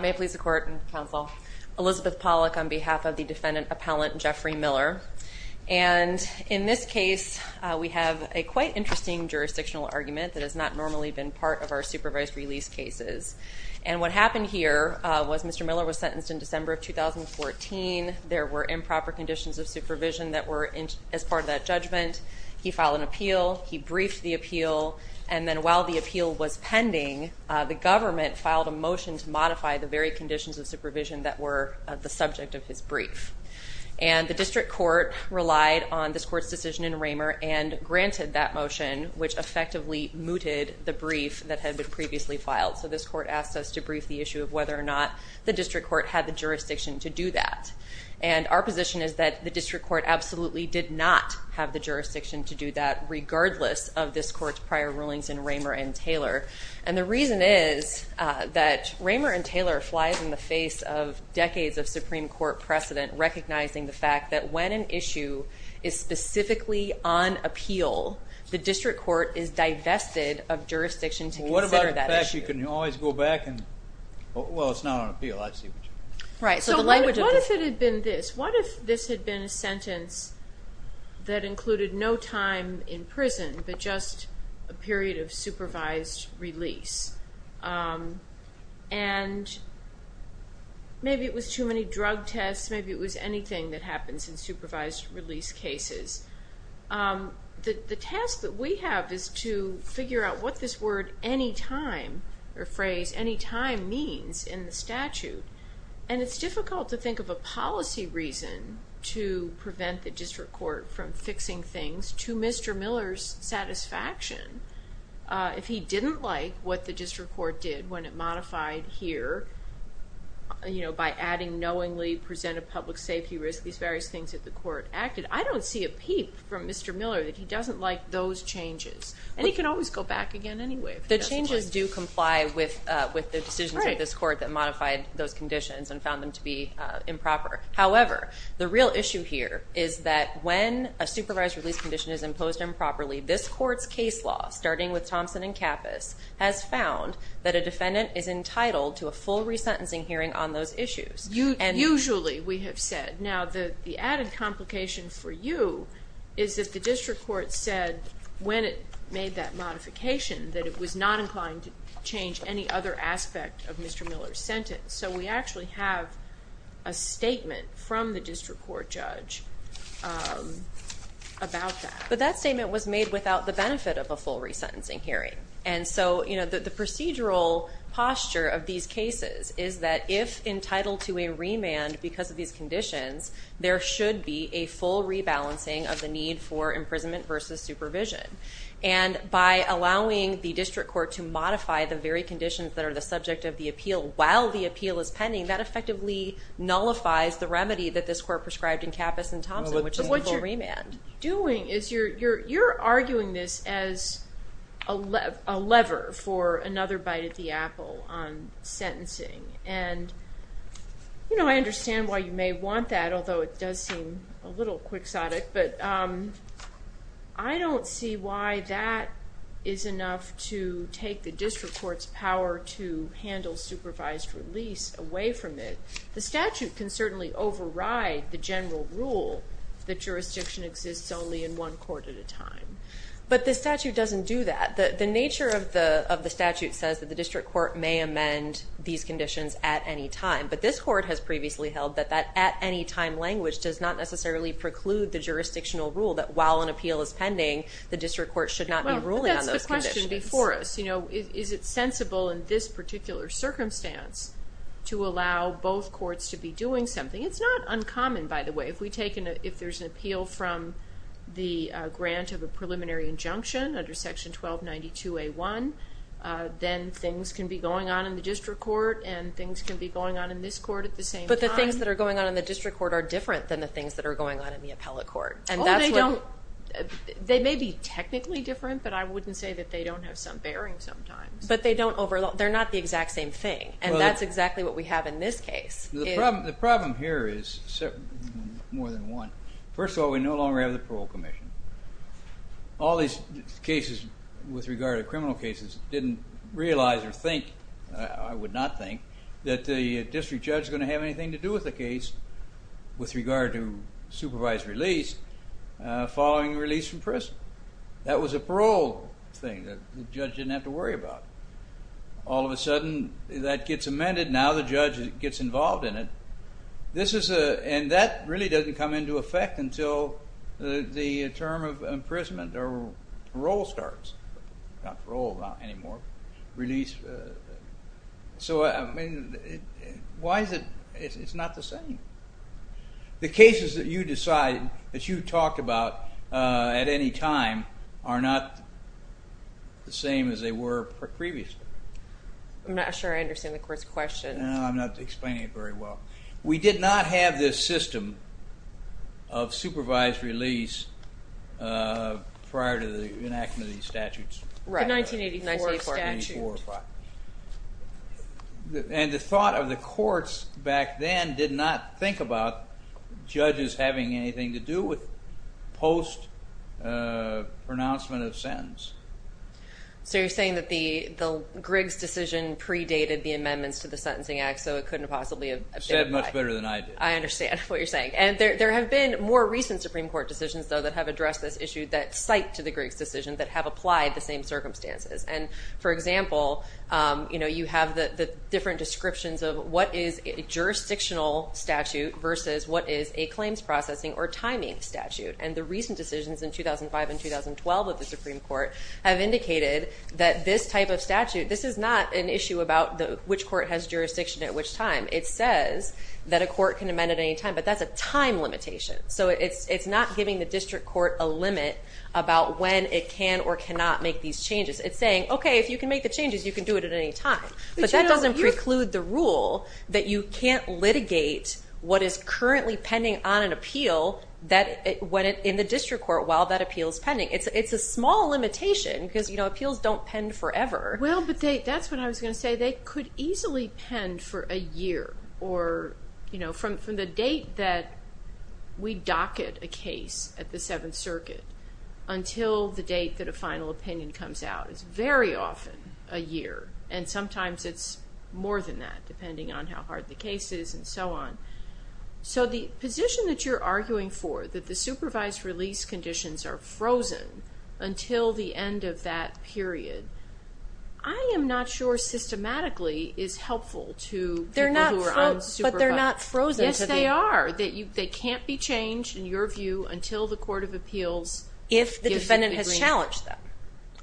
May it please the Court and Counsel, Elizabeth Pollack on behalf of the defendant appellant Jeffrey Miller. And in this case, we have a quite interesting jurisdictional argument that has not normally been part of our supervised release cases. And what happened here was Mr. Miller was sentenced in December of 2014. There were improper conditions of supervision that were as part of that judgment. He filed an appeal, he briefed the appeal, and then while the appeal was pending, the government filed a motion to modify the very conditions of supervision that were the subject of his brief. And the district court relied on this court's decision in Raymer and granted that motion, which effectively mooted the brief that had been previously filed. So this court asked us to brief the issue of whether or not the district court had the jurisdiction to do that. And our position is that the district court absolutely did not have the jurisdiction to do that regardless of this court's prior rulings in Raymer and Taylor. And the reason is that Raymer and Taylor flies in the face of decades of Supreme Court precedent recognizing the fact that when an issue is specifically on appeal, the district court is divested of jurisdiction to consider that issue. What about the fact that you can always go back and, well it's not on appeal, I see what you mean. So what if it had been this? What if this had been a sentence that included no time in prison but just a period of supervised release? And maybe it was too many drug tests, maybe it was anything that happens in supervised release cases. The task that we have is to figure out what this word any time or phrase any time means in the statute. And it's difficult to think of a policy reason to Mr. Miller's satisfaction if he didn't like what the district court did when it modified here, you know, by adding knowingly presented public safety risk, these various things that the court acted. I don't see a peep from Mr. Miller that he doesn't like those changes. And he can always go back again anyway. The changes do comply with the decisions of this court that modified those conditions and found them to be improper. However, the real issue here is that when a supervised release condition is imposed improperly, this court's case law, starting with Thompson and Kappas, has found that a defendant is entitled to a full resentencing hearing on those issues. Usually, we have said. Now the added complication for you is that the district court said when it made that modification that it was not inclined to change any other aspect of Mr. Miller's statement from the district court judge about that. But that statement was made without the benefit of a full resentencing hearing. And so, you know, the procedural posture of these cases is that if entitled to a remand because of these conditions, there should be a full rebalancing of the need for imprisonment versus supervision. And by allowing the district court to modify the very conditions that are the subject of the appeal while the appeal is pending, that effectively nullifies the remedy that this court prescribed in Kappas and Thompson, which is a full remand. But what you're doing is you're arguing this as a lever for another bite at the apple on sentencing. And, you know, I understand why you may want that, although it does seem a little quixotic, but I don't see why that is enough to take the district court's power to handle supervised release away from it. The statute can certainly override the general rule that jurisdiction exists only in one court at a time. But the statute doesn't do that. The nature of the statute says that the district court may amend these conditions at any time, but this court has previously held that that at-any-time language does not necessarily preclude the jurisdictional rule that while an appeal is pending, the district court should not be ruling on those conditions. That's the question before us. You know, is it sensible in this particular circumstance to allow both courts to be doing something? It's not uncommon, by the way. If we take in a-if there's an appeal from the grant of a preliminary injunction under section 1292A1, then things can be going on in the district court and things can be going on in this court at the same time. But the things that are going on in the district court are different than the things that are going on in the appellate court. And that's what- Oh, they don't- they may be technically different, but I wouldn't say that they don't have some bearing sometimes. But they don't overlap, they're not the exact same thing, and that's exactly what we have in this case. The problem here is more than one. First of all, we no longer have the Parole Commission. All these cases with regard to criminal cases didn't realize or think, I would not think, that the district judge is going to have anything to do with the case with regard to supervised release following release from prison. That was a parole thing that the judge didn't have to worry about. All of a sudden that gets amended, now the judge gets involved in it. This is a- and that really doesn't come into effect until the term of imprisonment or parole starts, not parole anymore, release. So I mean, why is it- it's not the same. The cases at any time are not the same as they were previously. I'm not sure I understand the court's question. No, I'm not explaining it very well. We did not have this system of supervised release prior to the enactment of these statutes. The 1984 statute. And the thought of the courts back then did not think about judges having anything to do with post-pronouncement of sentence. So you're saying that the Griggs decision predated the amendments to the Sentencing Act so it couldn't possibly have- Said it much better than I did. I understand what you're saying. And there have been more recent Supreme Court decisions, though, that have addressed this issue that cite to the Griggs decision that have applied the same circumstances. And for example, you know, you have the different descriptions of what is a jurisdictional statute versus what is a claims processing or timing statute. And the recent decisions in 2005 and 2012 of the Supreme Court have indicated that this type of statute- this is not an issue about which court has jurisdiction at which time. It says that a court can amend at any time, but that's a time limitation. So it's not giving the district court a limit about when it can or cannot make these changes. It's saying, okay, if you can make the changes, you can do it at any time. But that doesn't preclude the rule that you can't litigate what is currently pending on an appeal in the district court while that appeal is pending. It's a small limitation because, you know, appeals don't pen forever. Well, but that's what I was going to say. They could easily pen for a year or, you know, from the date that we docket a case at the Seventh Circuit until the date that a final opinion comes out. It's very often a year. And sometimes it's more than that, depending on how hard the case is and so on. So the position that you're arguing for, that the supervised release conditions are frozen until the end of that period, I am not sure systematically is helpful to people who are unsupervised. But they're not frozen to the end. Yes, they are. They can't be changed, in your view, until the Court of Appeals gives an agreement. The defendant has challenged them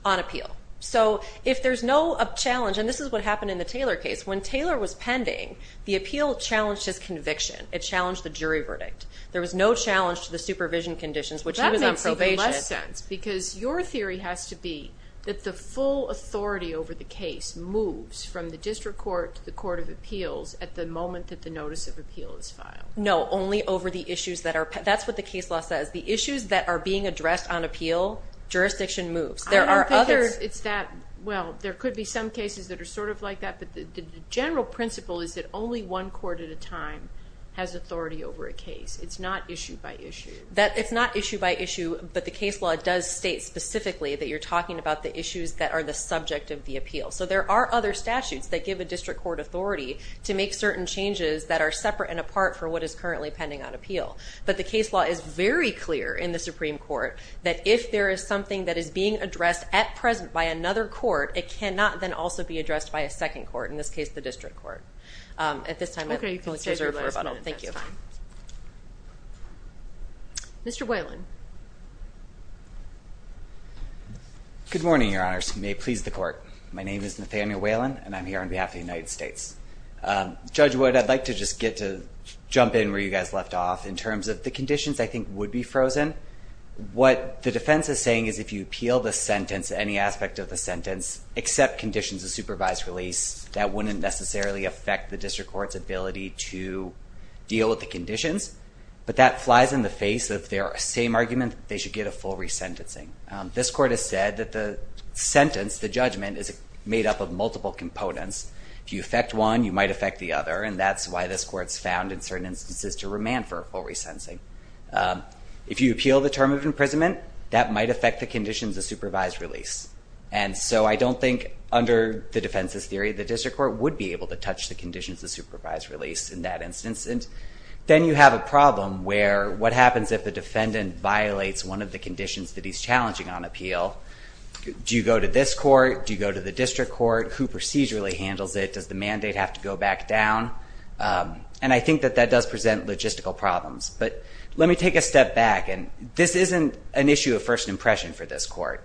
on appeal. So if there's no challenge, and this is what happened in the Taylor case, when Taylor was pending, the appeal challenged his conviction. It challenged the jury verdict. There was no challenge to the supervision conditions, which he was on probation. That makes even less sense because your theory has to be that the full authority over the case moves from the district court to the Court of Appeals at the moment that the Notice of Appeal is filed. No, only over the issues that are, that's what the case law says, the issues that are being appealed. Jurisdiction moves. I don't think it's that, well, there could be some cases that are sort of like that, but the general principle is that only one court at a time has authority over a case. It's not issue by issue. It's not issue by issue, but the case law does state specifically that you're talking about the issues that are the subject of the appeal. So there are other statutes that give a district court authority to make certain changes that are separate and apart for what is currently pending on appeal. But the case law is very clear in the Supreme Court that if there is something that is being addressed at present by another court, it cannot then also be addressed by a second court, in this case the district court. At this time, I'm going to leave it for rebuttal. Thank you. Mr. Whalen. Good morning, Your Honors. You may please the court. My name is Nathaniel Whalen and I'm here on behalf of the United States. Judge Wood, I'd like to just get to jump in where you guys left off in terms of the conditions I think would be frozen. What the defense is saying is if you appeal the sentence, any aspect of the sentence, except conditions of supervised release, that wouldn't necessarily affect the district court's ability to deal with the conditions. But that flies in the face of their same argument that they should get a full resentencing. This court has said that the sentence, the judgment, is made up of multiple components. If you affect one, you might affect the other, and that's why this court's found in certain instances to remand for a full resentencing. If you appeal the term of sentence, you might affect the conditions of supervised release. And so I don't think under the defense's theory, the district court would be able to touch the conditions of supervised release in that instance. And then you have a problem where what happens if the defendant violates one of the conditions that he's challenging on appeal? Do you go to this court? Do you go to the district court? Who procedurally handles it? Does the mandate have to go back down? And I think that that does present logistical problems. But let me take a different impression for this court.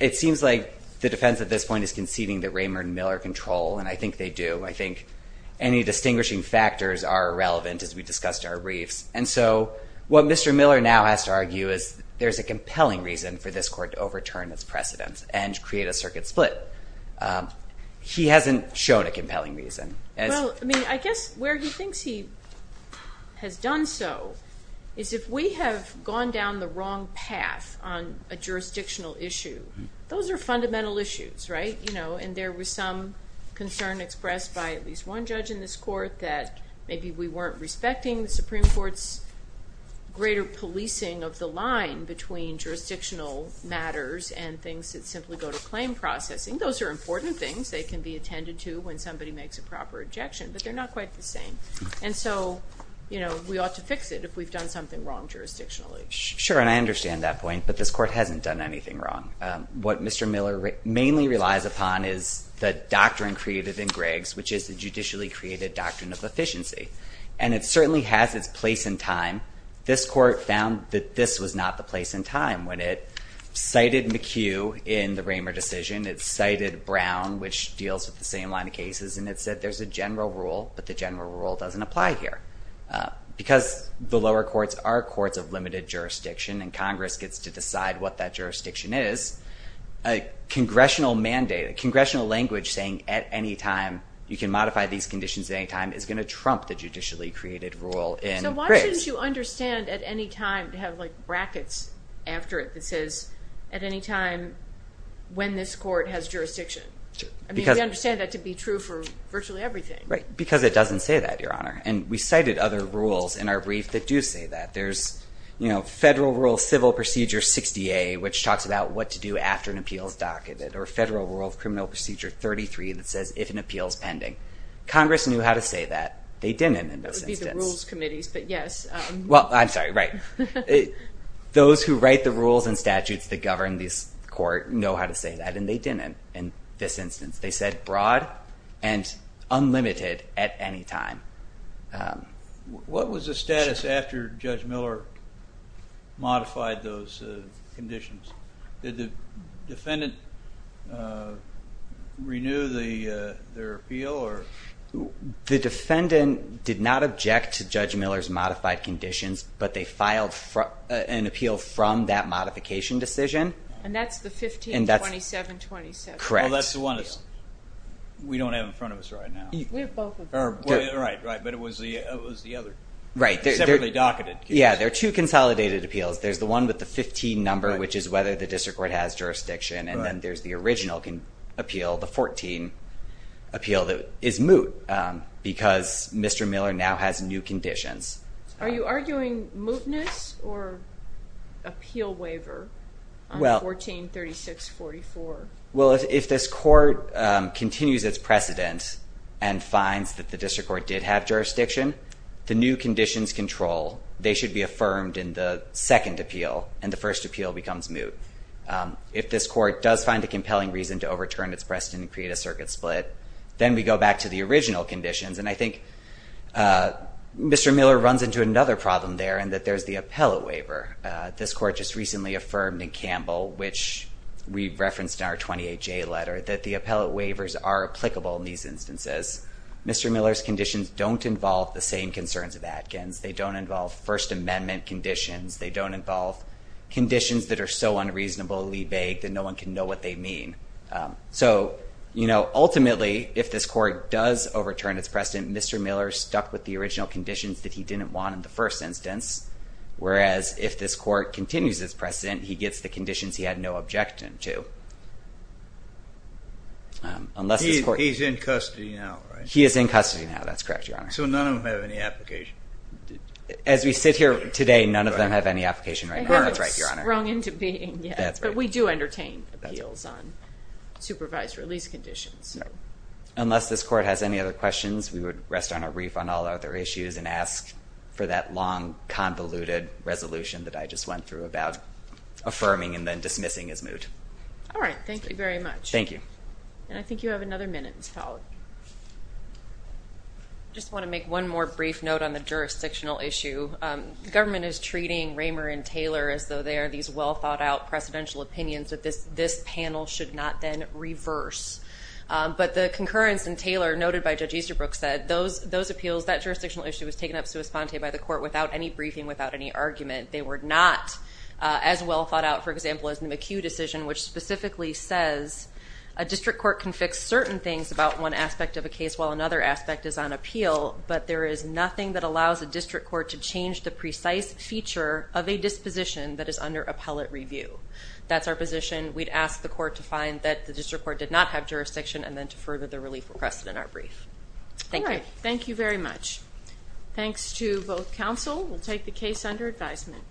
It seems like the defense at this point is conceding that Raymond Miller controlled, and I think they do. I think any distinguishing factors are irrelevant, as we discussed in our briefs. And so what Mr. Miller now has to argue is there's a compelling reason for this court to overturn its precedents and create a circuit split. He hasn't shown a compelling reason. Well, I mean, I guess where he thinks he has done so is if we have gone down the wrong path on a jurisdictional issue, those are fundamental issues, right? You know, and there was some concern expressed by at least one judge in this court that maybe we weren't respecting the Supreme Court's greater policing of the line between jurisdictional matters and things that simply go to claim processing. Those are important things. They can be attended to when somebody makes a proper ejection, but they're not quite the same. And so, you know, we ought to fix it if we've done something wrong jurisdictionally. Sure, and I understand that point, but this court hasn't done anything wrong. What Mr. Miller mainly relies upon is the doctrine created in Griggs, which is the judicially created doctrine of efficiency. And it certainly has its place in time. This court found that this was not the place in time when it cited McHugh in the Raymer decision. It cited Brown, which deals with the same line of cases, and it said there's a general rule, but the general rule doesn't apply here. Because the lower courts are courts of limited jurisdiction, and Congress gets to decide what that jurisdiction is, a congressional mandate, a congressional language saying at any time you can modify these conditions at any time is going to trump the judicially created rule in Griggs. So why shouldn't you understand at any time to have like brackets after it that says at any time when this court has jurisdiction? I mean, we understand that to be true for virtually everything. Because it doesn't say that, Your Honor. And we cited other rules in our brief that do say that. There's, you know, Federal Rule Civil Procedure 60A, which talks about what to do after an appeal is docketed, or Federal Rule of Criminal Procedure 33 that says if an appeal is pending. Congress knew how to say that. They didn't in this instance. That would be the rules committees, but yes. Well, I'm sorry, right. Those who write the rules and statutes that govern this court know how to docketed at any time. What was the status after Judge Miller modified those conditions? Did the defendant renew their appeal? The defendant did not object to Judge Miller's modified conditions, but they filed an appeal from that modification decision. And that's the 152727. Correct. Well, that's the one that we don't have in front of us right now. We have both of them. Right, right. But it was the other. Right. Separately docketed. Yeah, there are two consolidated appeals. There's the one with the 15 number, which is whether the district court has jurisdiction, and then there's the original appeal, the 14 appeal that is moot, because Mr. Miller now has new conditions. Are you arguing mootness or appeal waiver on 143644? Well, if this court continues its precedent and finds that the district court did have jurisdiction, the new conditions control, they should be affirmed in the second appeal. And the first appeal becomes moot. If this court does find a compelling reason to overturn its precedent and create a circuit split, then we go back to the original conditions. And I think Mr. Miller runs into another problem there, and that there's the appellate waiver. This court just recently affirmed in Campbell, which we referenced in our 28-J letter, that the appellate waivers are applicable in these instances. Mr. Miller's conditions don't involve the same concerns of Atkins. They don't involve First Amendment conditions. They don't involve conditions that are so unreasonably vague that no one can know what they mean. So, you know, ultimately, if this court does overturn its precedent, Mr. Miller stuck with the original conditions that he didn't want in the first instance, whereas if this court continues its precedent, he gets the conditions he had no objection to. He's in custody now, right? He is in custody now. That's correct, Your Honor. So none of them have any application? As we sit here today, none of them have any application right now. That's right, Your Honor. They haven't sprung into being yet. That's right. But we do entertain appeals on supervised release conditions. Unless this court has any other questions, we would rest on our reef on all other issues and ask for that long, convoluted resolution that I just went through about affirming and then dismissing his moot. All right. Thank you very much. Thank you. And I think you have another minute, Ms. Pollack. I just want to make one more brief note on the jurisdictional issue. The government is treating Raymer and Taylor as though they are these well-thought-out presidential opinions that this panel should not then reverse. But the concurrence in Taylor noted by Judge Easterbrook said those appeals, that jurisdictional issue was taken up sui sponte by the court without any briefing, without any argument. They were not as well thought out, for example, as the McHugh decision, which specifically says a district court can fix certain things about one aspect of a case while another aspect is on appeal, but there is nothing that allows a district court to change the precise feature of a disposition that is under appellate review. That's our position. We'd ask the court to find that the district court did not have jurisdiction and then to further the relief requested in our brief. Thank you. All right. Thank you very much. Thanks to both counsel. We'll take the case under advisement.